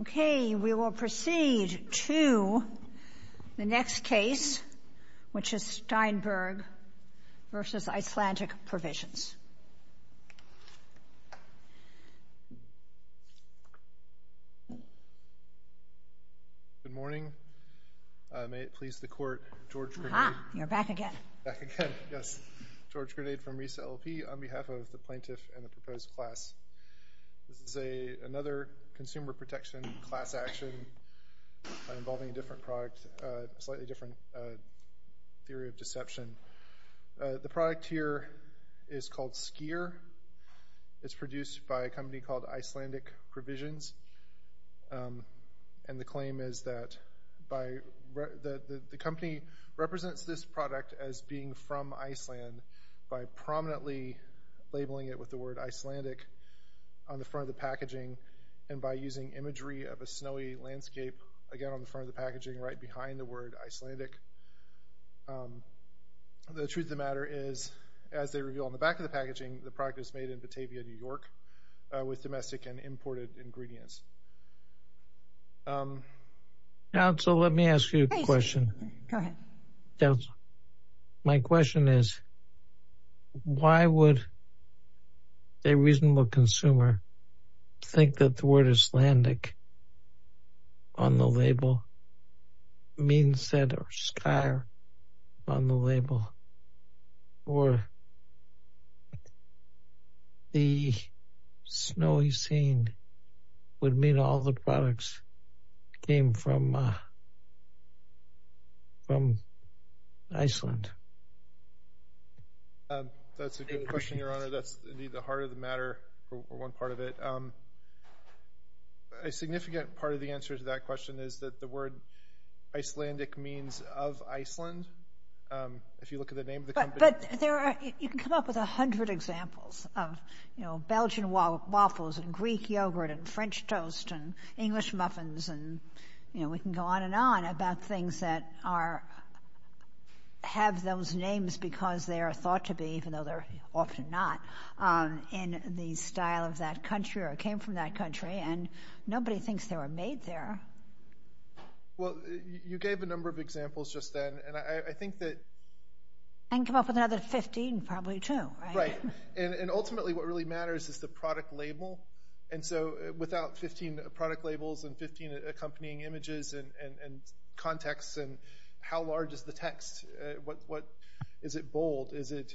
Okay, we will proceed to the next case, which is Steinberg v. Icelandic Provisions. Good morning. May it please the Court, George Grenade. Aha, you're back again. Back again, yes. George Grenade from RESA LLP on behalf of the plaintiff and the proposed class. This is another consumer protection class action involving a different product, a slightly different theory of deception. The product here is called Skier. It's produced by a company called Icelandic Provisions, and the claim is that the company represents this product as being from Iceland by prominently labeling it with the word Icelandic on the front of the packaging and by using imagery of a snowy landscape, again on the front of the word Icelandic. The truth of the matter is, as they reveal on the back of the packaging, the product is made in Batavia, New York, with domestic and imported ingredients. Counsel, let me ask you a question. Go ahead. Counsel, my question is, why would a reasonable consumer think that the word Icelandic on the label means that Skier on the label, or the snowy scene would mean all the products came from Iceland? That's a good question, Your Honor. That's, indeed, the heart of the matter, or one part of it. A significant part of the answer to that question is that the word Icelandic means of Iceland. If you look at the name of the company... But there are, you can come up with a hundred examples of, you know, Belgian waffles and Greek yogurt and French toast and English muffins and, you know, we can go on and on about things that are, have those names because they are thought to be, even though they're often not, in the style of that country or came from that country, and nobody thinks they were made there. Well, you gave a number of examples just then, and I think that... I can come up with another 15, probably, too. Right. And ultimately, what really matters is the product label. And so, without 15 product labels and 15 accompanying images and contexts and how large is the text, what... Is it bold? Is it...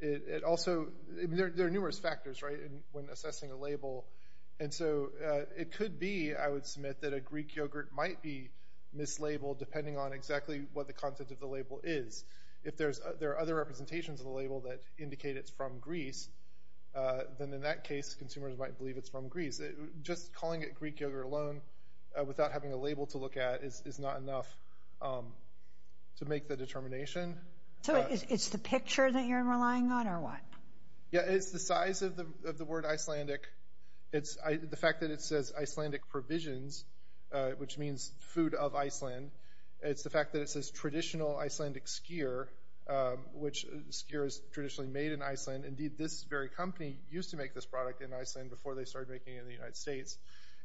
It also... There are numerous factors, right, when assessing a label. And so, it could be, I would submit, that a Greek yogurt might be mislabeled depending on exactly what the content of the label is. If there are other representations of the label that indicate it's from Greece, then in that case, consumers might believe it's from Greece. Just calling it Greek yogurt alone, without having a label to look at, is not enough to make the determination. So, it's the picture that you're relying on, or what? Yeah, it's the size of the word Icelandic. It's the fact that it says Icelandic provisions, which means food of Iceland. It's the fact that it says traditional Icelandic skier, which skier is traditionally made in Iceland. Indeed, this very company used to make this product in Iceland before they started making it in the United States.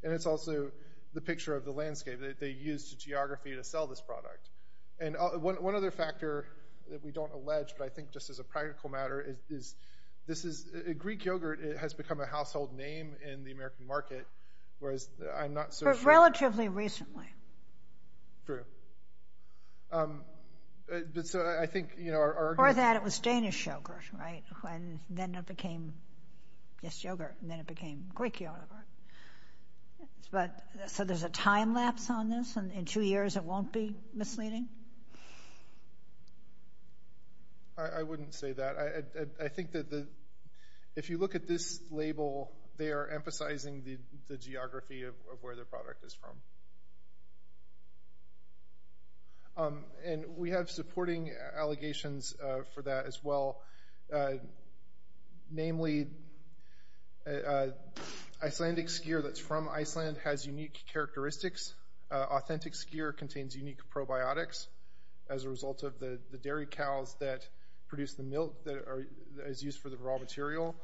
And it's also the landscape that they used to geography to sell this product. And one other factor that we don't allege, but I think just as a practical matter, is this is... Greek yogurt has become a household name in the American market, whereas I'm not so sure... But relatively recently. True. But so, I think, you know, our... Before that, it was Danish yogurt, right? And then it became just yogurt, and then it was a time lapse on this, and in two years, it won't be misleading? I wouldn't say that. I think that the... If you look at this label, they are emphasizing the geography of where the product is from. And we have supporting allegations for that as well. Namely, Icelandic skier that's from Iceland has unique characteristics. Authentic skier contains unique probiotics as a result of the dairy cows that produce the milk that is used for the raw material.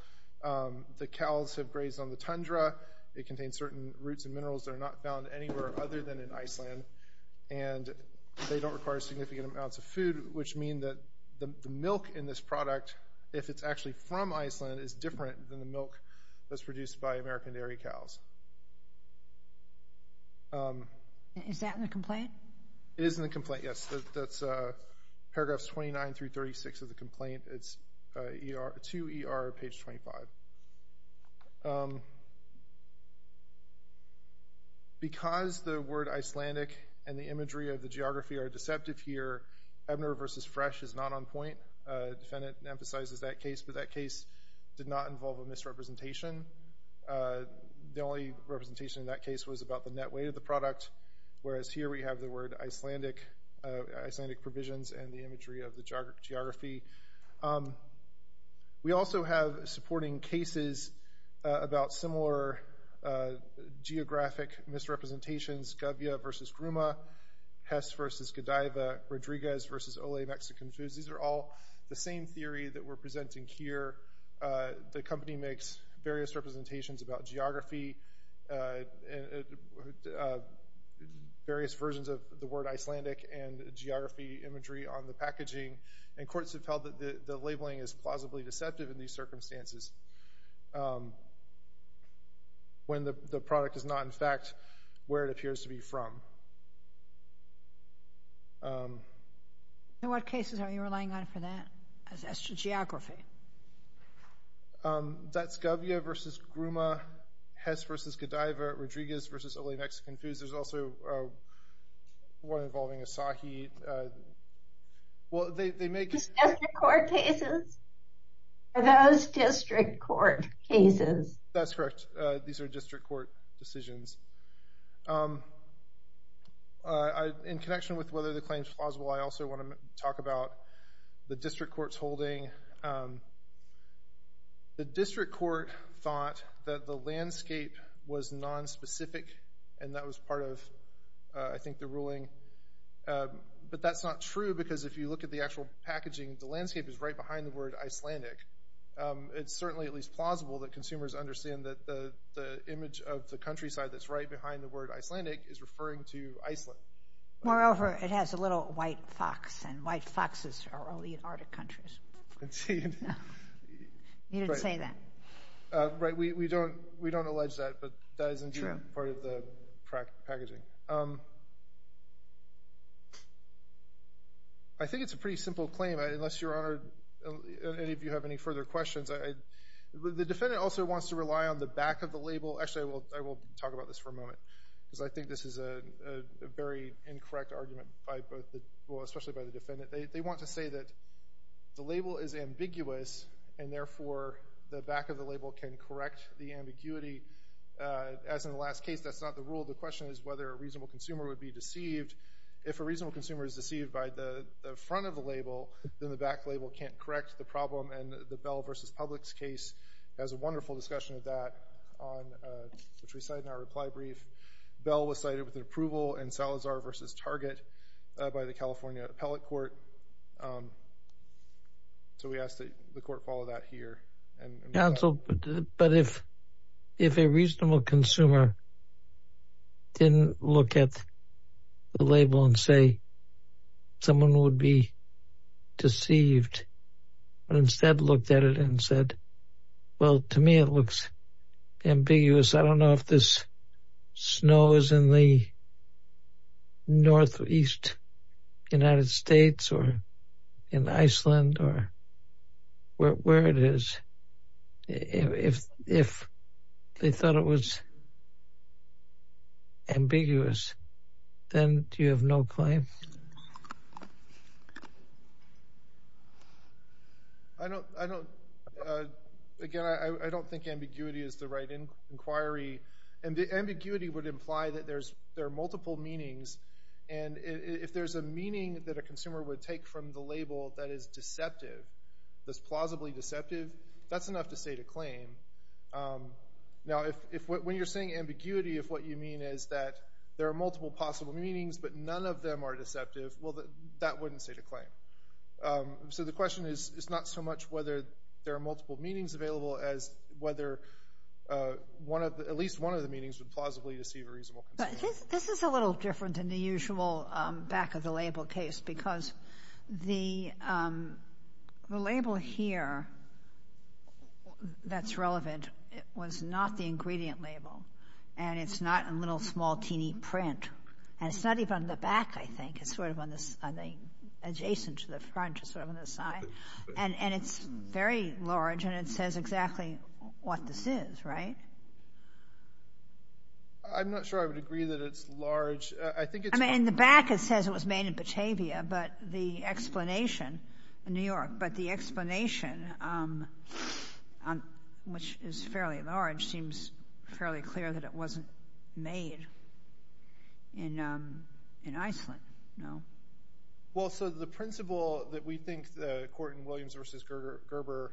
The cows have grazed on the tundra. It contains certain roots and minerals that are not found anywhere other than in Iceland. And they don't require significant amounts of food, which mean that the milk in this product, if it's actually from Iceland, is different than the milk that's produced by American dairy cows. Is that in the complaint? It is in the complaint, yes. That's paragraphs 29 through 36 of the complaint. It's to ER, page 25. Because the word Icelandic and the imagery of the geography are deceptive here, Ebner versus Fresh is not on point. Defendant emphasizes that case, but that case did not involve a misrepresentation. The only representation in that case was about the net weight of the product, whereas here we have the word Icelandic, Icelandic provisions and the imagery of the geography. We also have supporting cases about similar geographic misrepresentations, Gavia versus Gruma, Hess versus Godiva, Rodriguez versus Olay Mexican Foods. These are all the same theory that we're presenting here. The company makes various representations about various versions of the word Icelandic and geography imagery on the packaging, and courts have held that the labeling is plausibly deceptive in these circumstances when the product is not, in fact, where it appears to be from. In what cases are you relying on for that as to geography? That's Gavia versus Gruma, Hess versus Godiva, Rodriguez versus Olay Mexican Foods. There's also one involving Asahi. Well, they make... District court cases? Are those district court cases? That's correct. These are district court decisions. In connection with whether the claim's plausible, I also want to talk about the district court's holding. The district court thought that the landscape was nonspecific, and that was part of I think the ruling. But that's not true, because if you look at the actual packaging, the landscape is right behind the word Icelandic. It's certainly at least plausible that consumers understand that the image of the countryside that's right behind the word Icelandic is referring to Iceland. Moreover, it has a little white fox, and white foxes are only in Arctic countries. You didn't say that. We don't allege that, but that isn't part of the packaging. I think it's a pretty simple claim, unless, Your Honor, any of you have any further questions. The defendant also wants to rely on the back of the label. Actually, I will talk about this for a moment, because I think this is a very incorrect argument, especially by the defendant. They want to say that the label is ambiguous, and therefore, the back of the label can correct the ambiguity. As in the last case, that's not the rule. The question is whether a reasonable consumer would be deceived. If a reasonable consumer is deceived by the front of the label, then the back label can't correct the problem, and the Bell v. Publix case has a wonderful discussion of that, which we cite in our reply brief. Bell was cited with an approval in Salazar v. Target by the California Appellate Court. So we ask that the court follow that here. Counsel, but if a reasonable consumer didn't look at the label and say someone would be deceived, but instead looked at it and said, well, to me, it looks ambiguous. I don't know if this snow is in the northeast United States or in Iceland or where it is. If they thought it was ambiguous, then do you have no claim? Again, I don't think ambiguity is the right inquiry. Ambiguity would imply that there are multiple meanings, and if there's a meaning that a consumer would take from the label that is deceptive, that's plausibly deceptive, that's enough to state a claim. Now, when you're saying ambiguity, if what you mean is that there are multiple possible meanings, but none of them are deceptive, well, that wouldn't state a claim. So the question is not so much whether there are multiple meanings available as whether at least one of the meanings would plausibly deceive a reasonable consumer. But this is a little different than the usual back-of-the-label case because the label here that's relevant was not the ingredient label, and it's not a little, small, teeny print, and it's not even on the back, I think. It's sort of adjacent to the front, just sort of on the side, and it's very large, and it says exactly what this is, right? I'm not sure I would agree that it's large. I mean, in the back, it says it was made in Batavia, but the explanation in New York, but the explanation, which is fairly large, seems fairly clear that it wasn't made in Iceland. Well, so the principle that we think that Korten Williams versus Gerber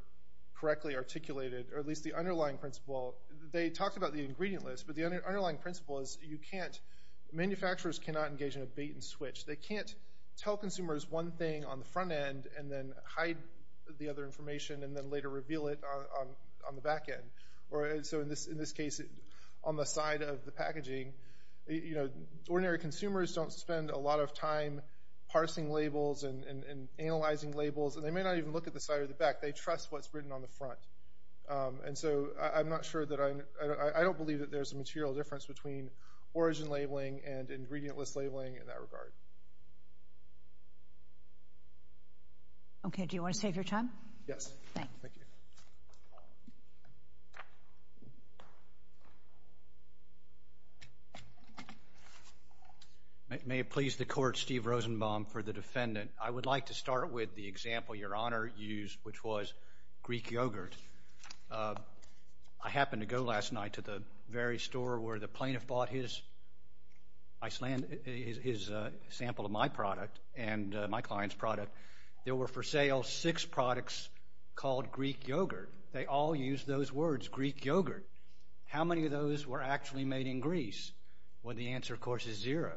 correctly articulated, or at least the underlying principle, they talked about the ingredient list, but the underlying principle is you can't, manufacturers cannot engage in a bait and switch. They can't tell and then later reveal it on the back end. So in this case, on the side of the packaging, ordinary consumers don't spend a lot of time parsing labels and analyzing labels, and they may not even look at the side or the back. They trust what's written on the front. And so I'm not sure that I, I don't believe that there's a material difference between origin labeling and ingredient list labeling in that regard. Okay. Do you want to save your time? Yes. Thank you. May it please the court, Steve Rosenbaum for the defendant. I would like to start with the example Your Honor used, which was Greek yogurt. I happened to go last night to the very store where the plaintiff bought his Iceland, his sample of my product and my client's product. There were for sale six products called Greek yogurt. They all used those words, Greek yogurt. How many of those were actually made in Greece? Well, the answer of course is zero.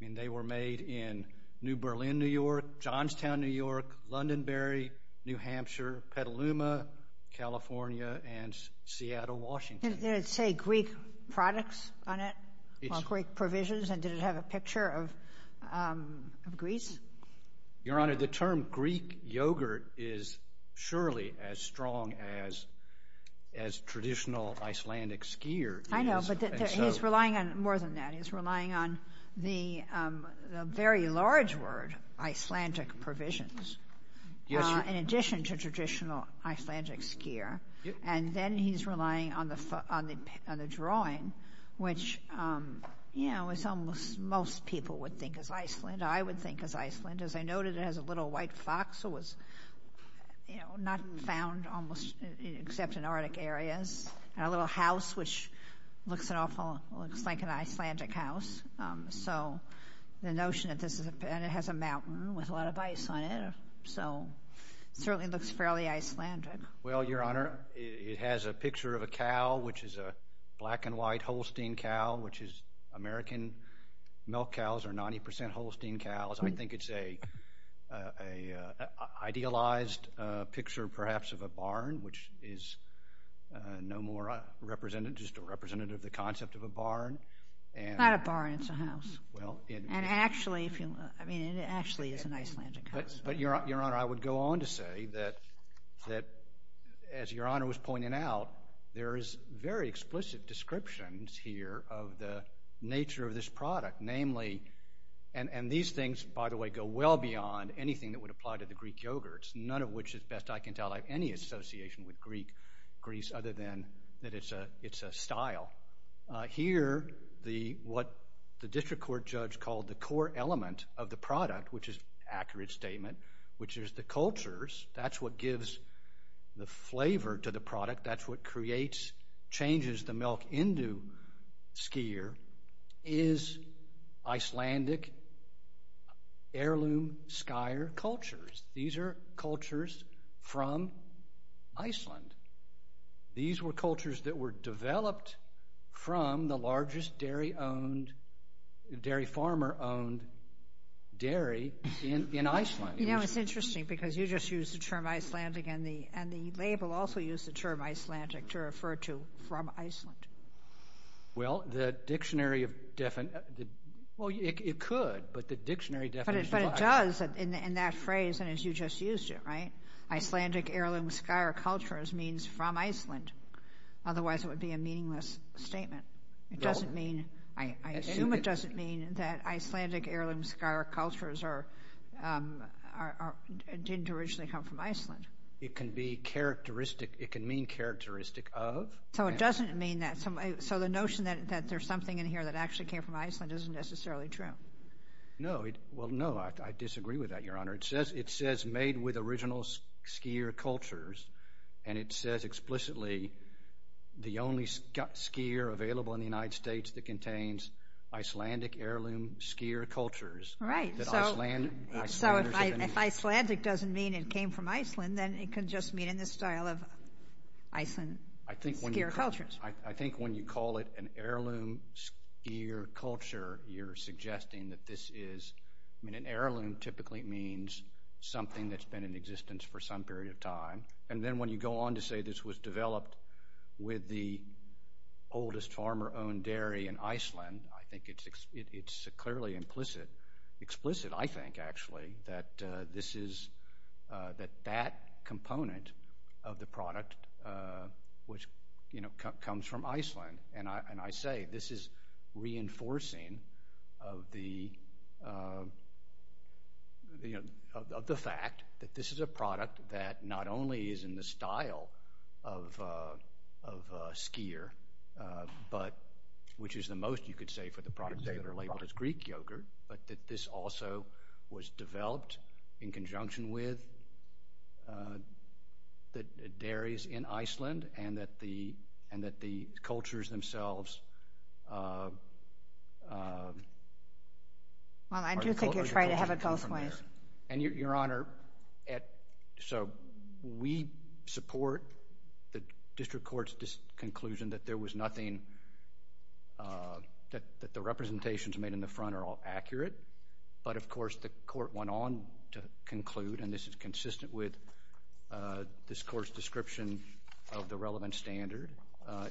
I mean, they were made in New Berlin, New York, Johnstown, New York, Londonbury, New Hampshire, Petaluma, California, and Seattle, Washington. Did it say Greek products on it, or Greek provisions, and did it have a picture of Greece? Your Honor, the term Greek yogurt is surely as strong as traditional Icelandic skier. I know, but he's relying on more than that. He's relying on the very large word, Icelandic provisions, in addition to traditional Icelandic skier. Then he's relying on the drawing, which most people would think is Iceland. I would think is Iceland. As I noted, it has a little white fox that was not found almost except in Arctic areas, and a little house, which looks like an Icelandic house. The notion that this is, and it has a mountain with a lot of ice on it, so it certainly looks fairly Icelandic. Well, Your Honor, it has a picture of a cow, which is a black and white Holstein cow, which is American milk cows, or 90 percent Holstein cows. I think it's a idealized picture perhaps of a barn, which is no more representative, just a representative of the concept of a barn. Not a barn, it's a house. It actually is an Icelandic house. But Your Honor, I would go on to say that as Your Honor was pointing out, there is very explicit descriptions here of the nature of this product. These things, by the way, go well beyond anything that would apply to the Greek yogurts, none of which, as best I can tell, have any association with Greece, other than that it's a style. Here, what the district court judge called the core element of the product, which is an accurate statement, which is the cultures, that's what gives the flavor to the product, that's what creates, changes the milk into skier, is Icelandic heirloom skier cultures. These are cultures from Iceland. These were cultures that were developed from the largest dairy farmer-owned dairy in Iceland. You know, it's interesting because you just used the term Icelandic and the label also used the Iceland. Well, it could, but the dictionary definition... But it does, in that phrase, and as you just used it, Icelandic heirloom skier cultures means from Iceland. Otherwise, it would be a meaningless statement. It doesn't mean, I assume it doesn't mean, that Icelandic heirloom skier cultures didn't originally come from Iceland. It can be characteristic. It can mean characteristic of. So it doesn't mean that. So the notion that there's something in here that actually came from Iceland isn't necessarily true. No. Well, no, I disagree with that, Your Honor. It says made with original skier cultures, and it says explicitly, the only skier available in the United States that contains Icelandic heirloom skier cultures. Right. So if Icelandic doesn't mean it came from Iceland, then it can just mean in the style of Iceland skier cultures. I think when you call it an heirloom skier culture, you're suggesting that this is... I mean, an heirloom typically means something that's been in existence for some period of time, and then when you go on to say this was developed with the oldest farmer-owned dairy in Iceland, I think it's clearly explicit, I think, actually, that that component of the product comes from Iceland. And I say this is reinforcing of the fact that this is a product that not only is in the style of skier, which is the most, you could say, for the products that are labeled as Greek yogurt, but that this also was developed in conjunction with the dairies in Iceland, and that the cultures themselves... Well, I do think you're trying to have it both ways. And, Your Honor, so we support the district court's conclusion that there was nothing... that the representations made in the front are all accurate, but of course, the court went on to conclude, and this is consistent with this court's description of the relevant standard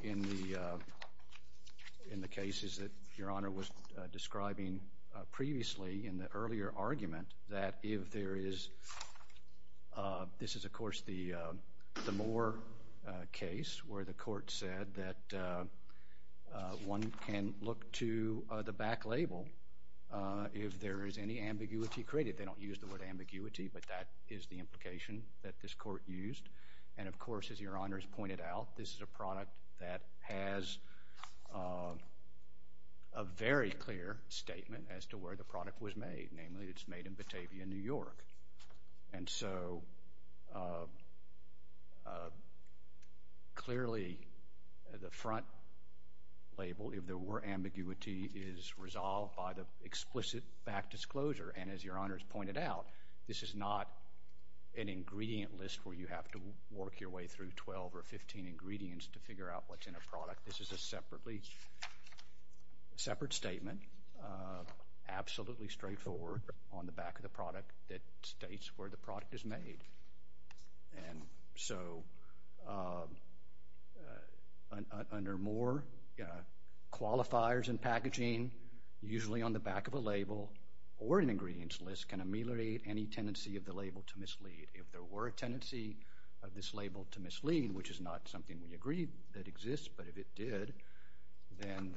in the cases that Your Honor was describing previously in the earlier argument, that if there is... This is, of course, the Moore case, where the court said that one can look to the back label if there is any ambiguity created. They don't use the word ambiguity, but that is the implication that this court used. And of course, as Your Honor has pointed out, this is a product that has a very clear statement as to where the product was made. Namely, it's made in Batavia, New York. And so, clearly, the front label, if there were ambiguity, is resolved by the explicit back disclosure. And as Your Honor's pointed out, this is not an ingredient list where you have to work your way through 12 or 15 ingredients to figure out what's in a product. This is a separate statement, absolutely straightforward, on the back of the product that states where the product is made. And so, under Moore, qualifiers and packaging, usually on the back of a label or an ingredients list, can ameliorate any tendency of the label to mislead. If there were a tendency of this label to mislead, which is not something we agree that exists, but if it did, then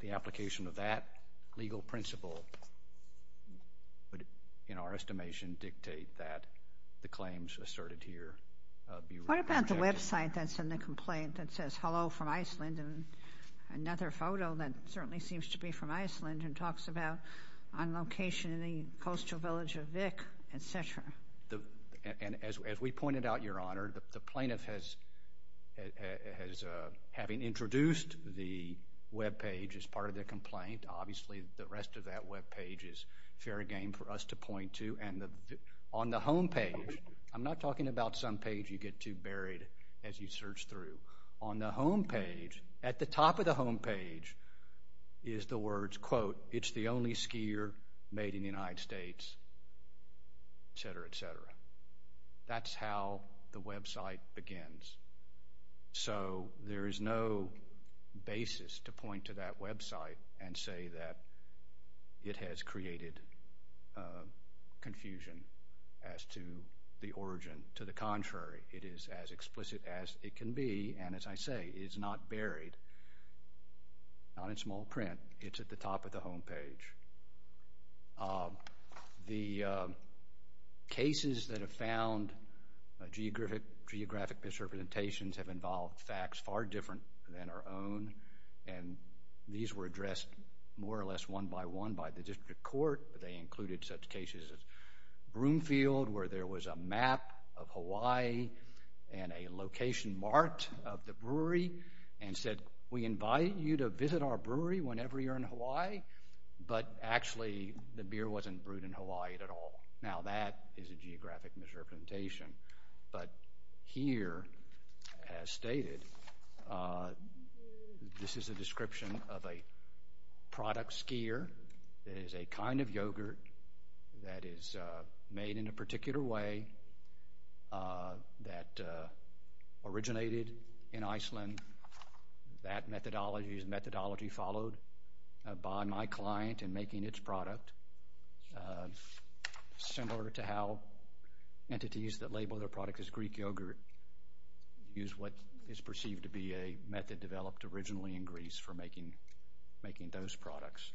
the application of legal principle would, in our estimation, dictate that the claims asserted here be rejected. What about the website that's in the complaint that says, hello from Iceland, and another photo that certainly seems to be from Iceland and talks about on location in the coastal village of Vik, et cetera? And as we pointed out, Your Honor, the plaintiff has, having introduced the web page as part of the complaint, obviously the rest of that web page is fair game for us to point to. And on the home page, I'm not talking about some page you get too buried as you search through. On the home page, at the top of the home page, is the words, quote, it's the only skier made in the United States, et cetera, et cetera. That's how the website begins. So, there is no basis to point to that website and say that it has created confusion as to the origin. To the contrary, it is as explicit as it can be. And as I say, it is not buried, not in small print. It's at the top of the home page. The cases that have found geographic misrepresentations have involved facts far different than our own. And these were addressed more or less one by one by the District Court. They included such cases as Broomfield, where there was a map of Hawaii and a location marked of the brewery and said, we invite you to visit our brewery whenever you're in Hawaii. But actually, the beer wasn't brewed in Hawaii at all. Now that is a geographic misrepresentation. But here, as stated, this is a description of a product skier. It is a kind of yogurt that is made in a particular way that originated in Iceland. That methodology is methodology followed by my client in making its product. Similar to how entities that label their product as Greek yogurt use what is perceived to be a method developed originally in Greece for making those products.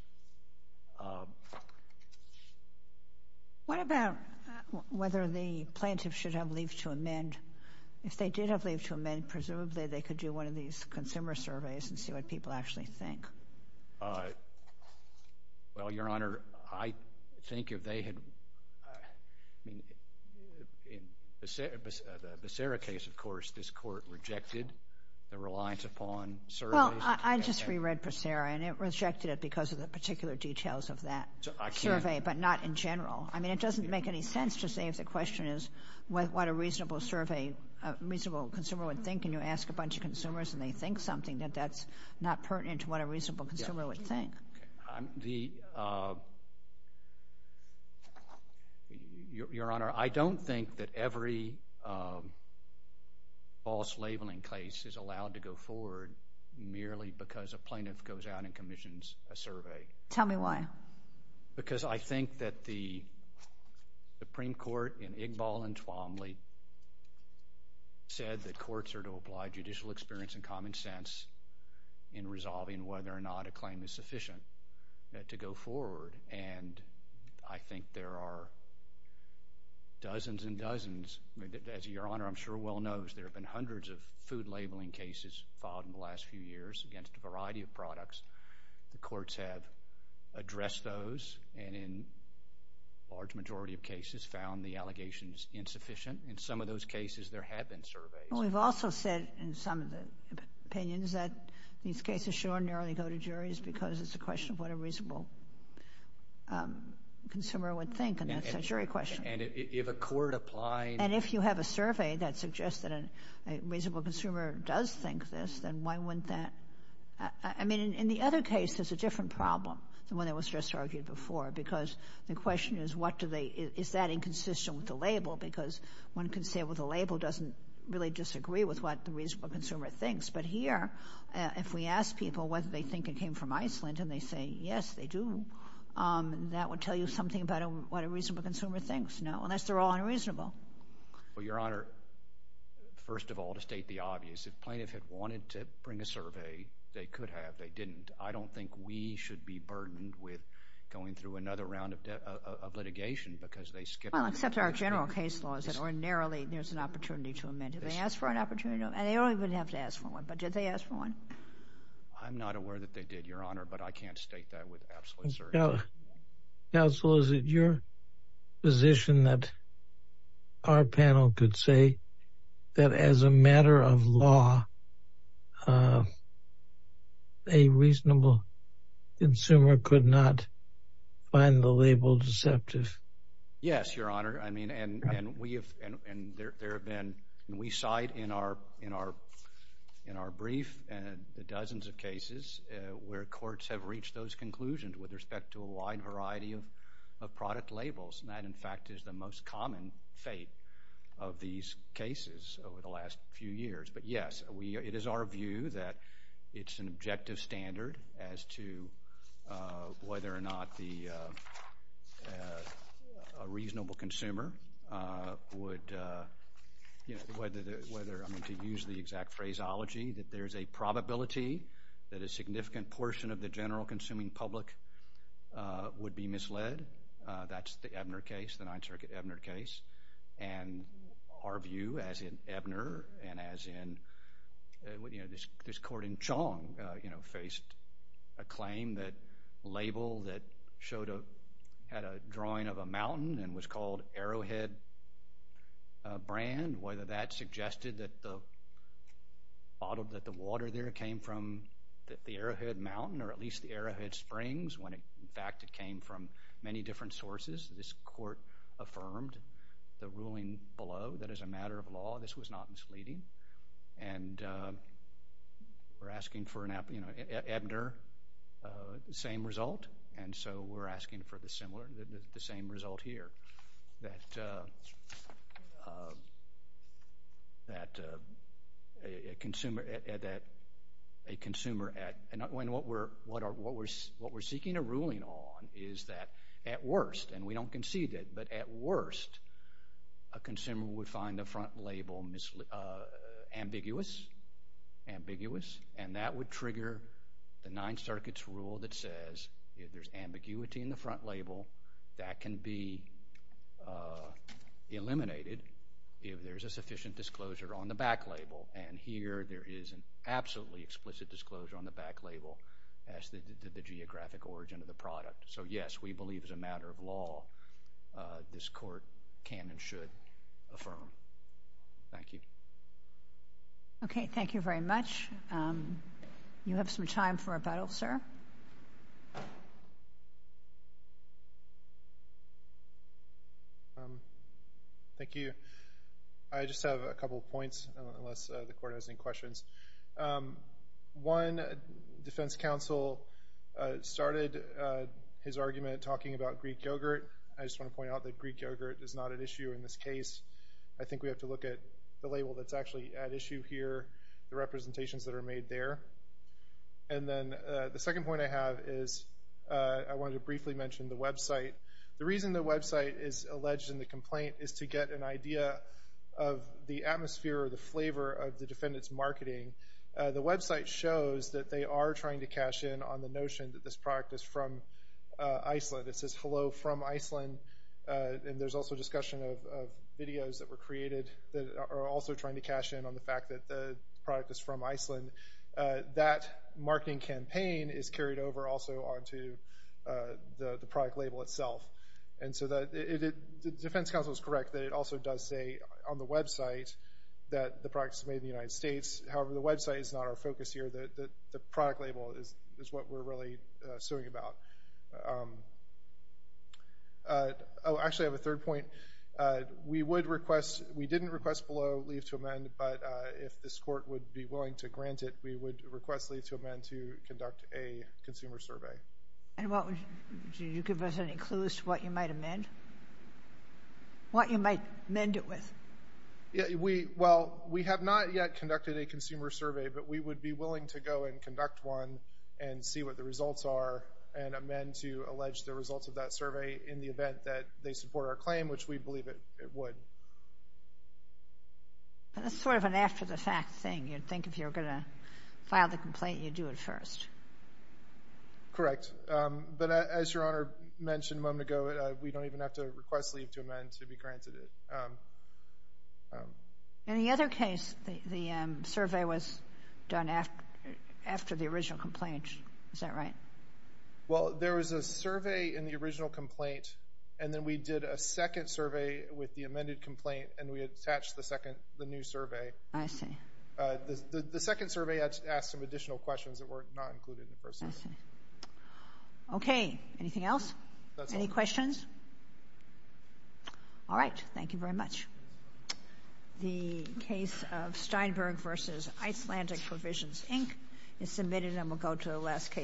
What about whether the plaintiff should have leave to amend? If they did have leave to amend, presumably they could do one of these consumer surveys and see what people actually think. Well, Your Honor, I think if they had, I mean, in the Becerra case, of course, this court rejected the reliance upon surveys. Well, I just reread Becerra and it rejected it because of the particular details of that survey, but not in general. I mean, it doesn't make any sense to say if the question is what a reasonable survey, a reasonable consumer would think, and you ask a bunch of questions. Your Honor, I don't think that every false labeling case is allowed to go forward merely because a plaintiff goes out and commissions a survey. Tell me why. Because I think that the Supreme Court in Igbal and Twombly said that courts are to apply judicial experience and common sense in resolving whether or not a claim is sufficient to go forward, and I think there are dozens and dozens. As Your Honor, I'm sure well knows, there have been hundreds of food labeling cases filed in the last few years against a variety of products. The courts have addressed those and in a large majority of cases found the allegations insufficient. In some of those cases, there have been surveys. Well, we've also said in some of the opinions that these cases should ordinarily go to juries because it's a question of what a reasonable consumer would think, and that's a jury question. And if a court applied And if you have a survey that suggests that a reasonable consumer does think this, then why wouldn't that? I mean, in the other case, there's a different problem than what was just argued before because the question is, what do they, is that inconsistent with the label? Because one can say, well, the label doesn't really disagree with what the reasonable consumer thinks. But here, if we ask people whether they think it came from Iceland and they say, yes, they do, that would tell you something about what a reasonable consumer thinks. No, unless they're all unreasonable. Well, Your Honor, first of all, to state the obvious, if plaintiffs had wanted to bring a survey, they could have. They didn't. I don't think we should be burdened with going through another round of litigation because they skip. Well, except our general case laws that ordinarily there's an opportunity to amend. If they ask for an opportunity, and they don't even have to ask for one, but did they ask for one? I'm not aware that they did, Your Honor, but I can't state that with absolute certainty. Counselor, is it your position that our panel could say that as a matter of law, a reasonable consumer could not find the label deceptive? Yes, Your Honor. I mean, and we have, and there have been, we cite in our brief the dozens of cases where courts have reached those conclusions with respect to a wide variety of product labels. And that, in fact, is the most common fate of these cases over the last few years. But yes, it is our view that it's an objective standard as to whether or not the reasonable consumer would, you know, whether, I mean, to use the exact phraseology, that there's a probability that a significant portion of the general consuming public would be misled. That's Ebner case, the Ninth Circuit Ebner case. And our view, as in Ebner and as in, you know, this court in Chong, you know, faced a claim that a label that showed a, had a drawing of a mountain and was called Arrowhead brand, whether that suggested that the bottle, that the water there came from the Arrowhead Mountain or at least the Arrowhead Springs when, in fact, it came from many different sources. This court affirmed the ruling below, that as a matter of law, this was not misleading. And we're asking for an, you know, Ebner, the same result. And so we're asking for the similar, the same result here. That a consumer, that a consumer at, when what we're, what we're seeking a ruling on is that at worst, and we don't concede it, but at worst, a consumer would find the front label ambiguous, ambiguous, and that would trigger the Ninth Circuit's rule that says if there's ambiguity in the front label, that can be eliminated if there's a sufficient disclosure on the back label. And here there is an absolutely explicit disclosure on the back label as the geographic origin of the product. So yes, we believe as a matter of law, this court can and should affirm. Thank you. Okay. Thank you very much. You have some time for a battle, sir. Thank you. I just have a couple of points, unless the court has any questions. One, defense counsel started his argument talking about Greek yogurt. I just want to point out that Greek yogurt is not an issue in this case. I think we have to look at the label that's actually at issue here, the representations that are made there. And then the second point I have is I wanted to briefly mention the website. The reason the website is alleged in the complaint is to get an idea of the atmosphere or the flavor of the defendant's marketing. The website shows that they are trying to cash in on the notion that this product is from Iceland. It says, hello, from Iceland. And there's also discussion of videos that were created that are also trying to cash in on the fact that the product is from Iceland. That marketing campaign is carried over onto the product label itself. And so the defense counsel is correct that it also does say on the website that the product is made in the United States. However, the website is not our focus here. The product label is what we're really suing about. Actually, I have a third point. We didn't request below leave to amend, but if this court would be willing to grant it, we would request leave to amend to conduct a consumer survey. And do you give us any clues to what you might amend? What you might mend it with? Well, we have not yet conducted a consumer survey, but we would be willing to go and conduct one and see what the results are and amend to allege the results of that survey in the event that they support our claim, which we believe it would. That's sort of an after-the-fact thing. You'd think if you were going to file the complaint, you'd do it first. Correct. But as Your Honor mentioned a moment ago, we don't even have to request leave to amend to be granted it. In the other case, the survey was done after the original complaint. Is that right? Well, there was a survey in the original complaint, and then we did a second survey with the amended complaint, and we attached the new survey. I see. The second survey asked some additional questions that were not included in the first survey. I see. Okay. Anything else? That's all. Any questions? All right. Thank you very much. The case of Steinberg v. Icelandic Provisions, Inc. is submitted, and we'll go to the last case.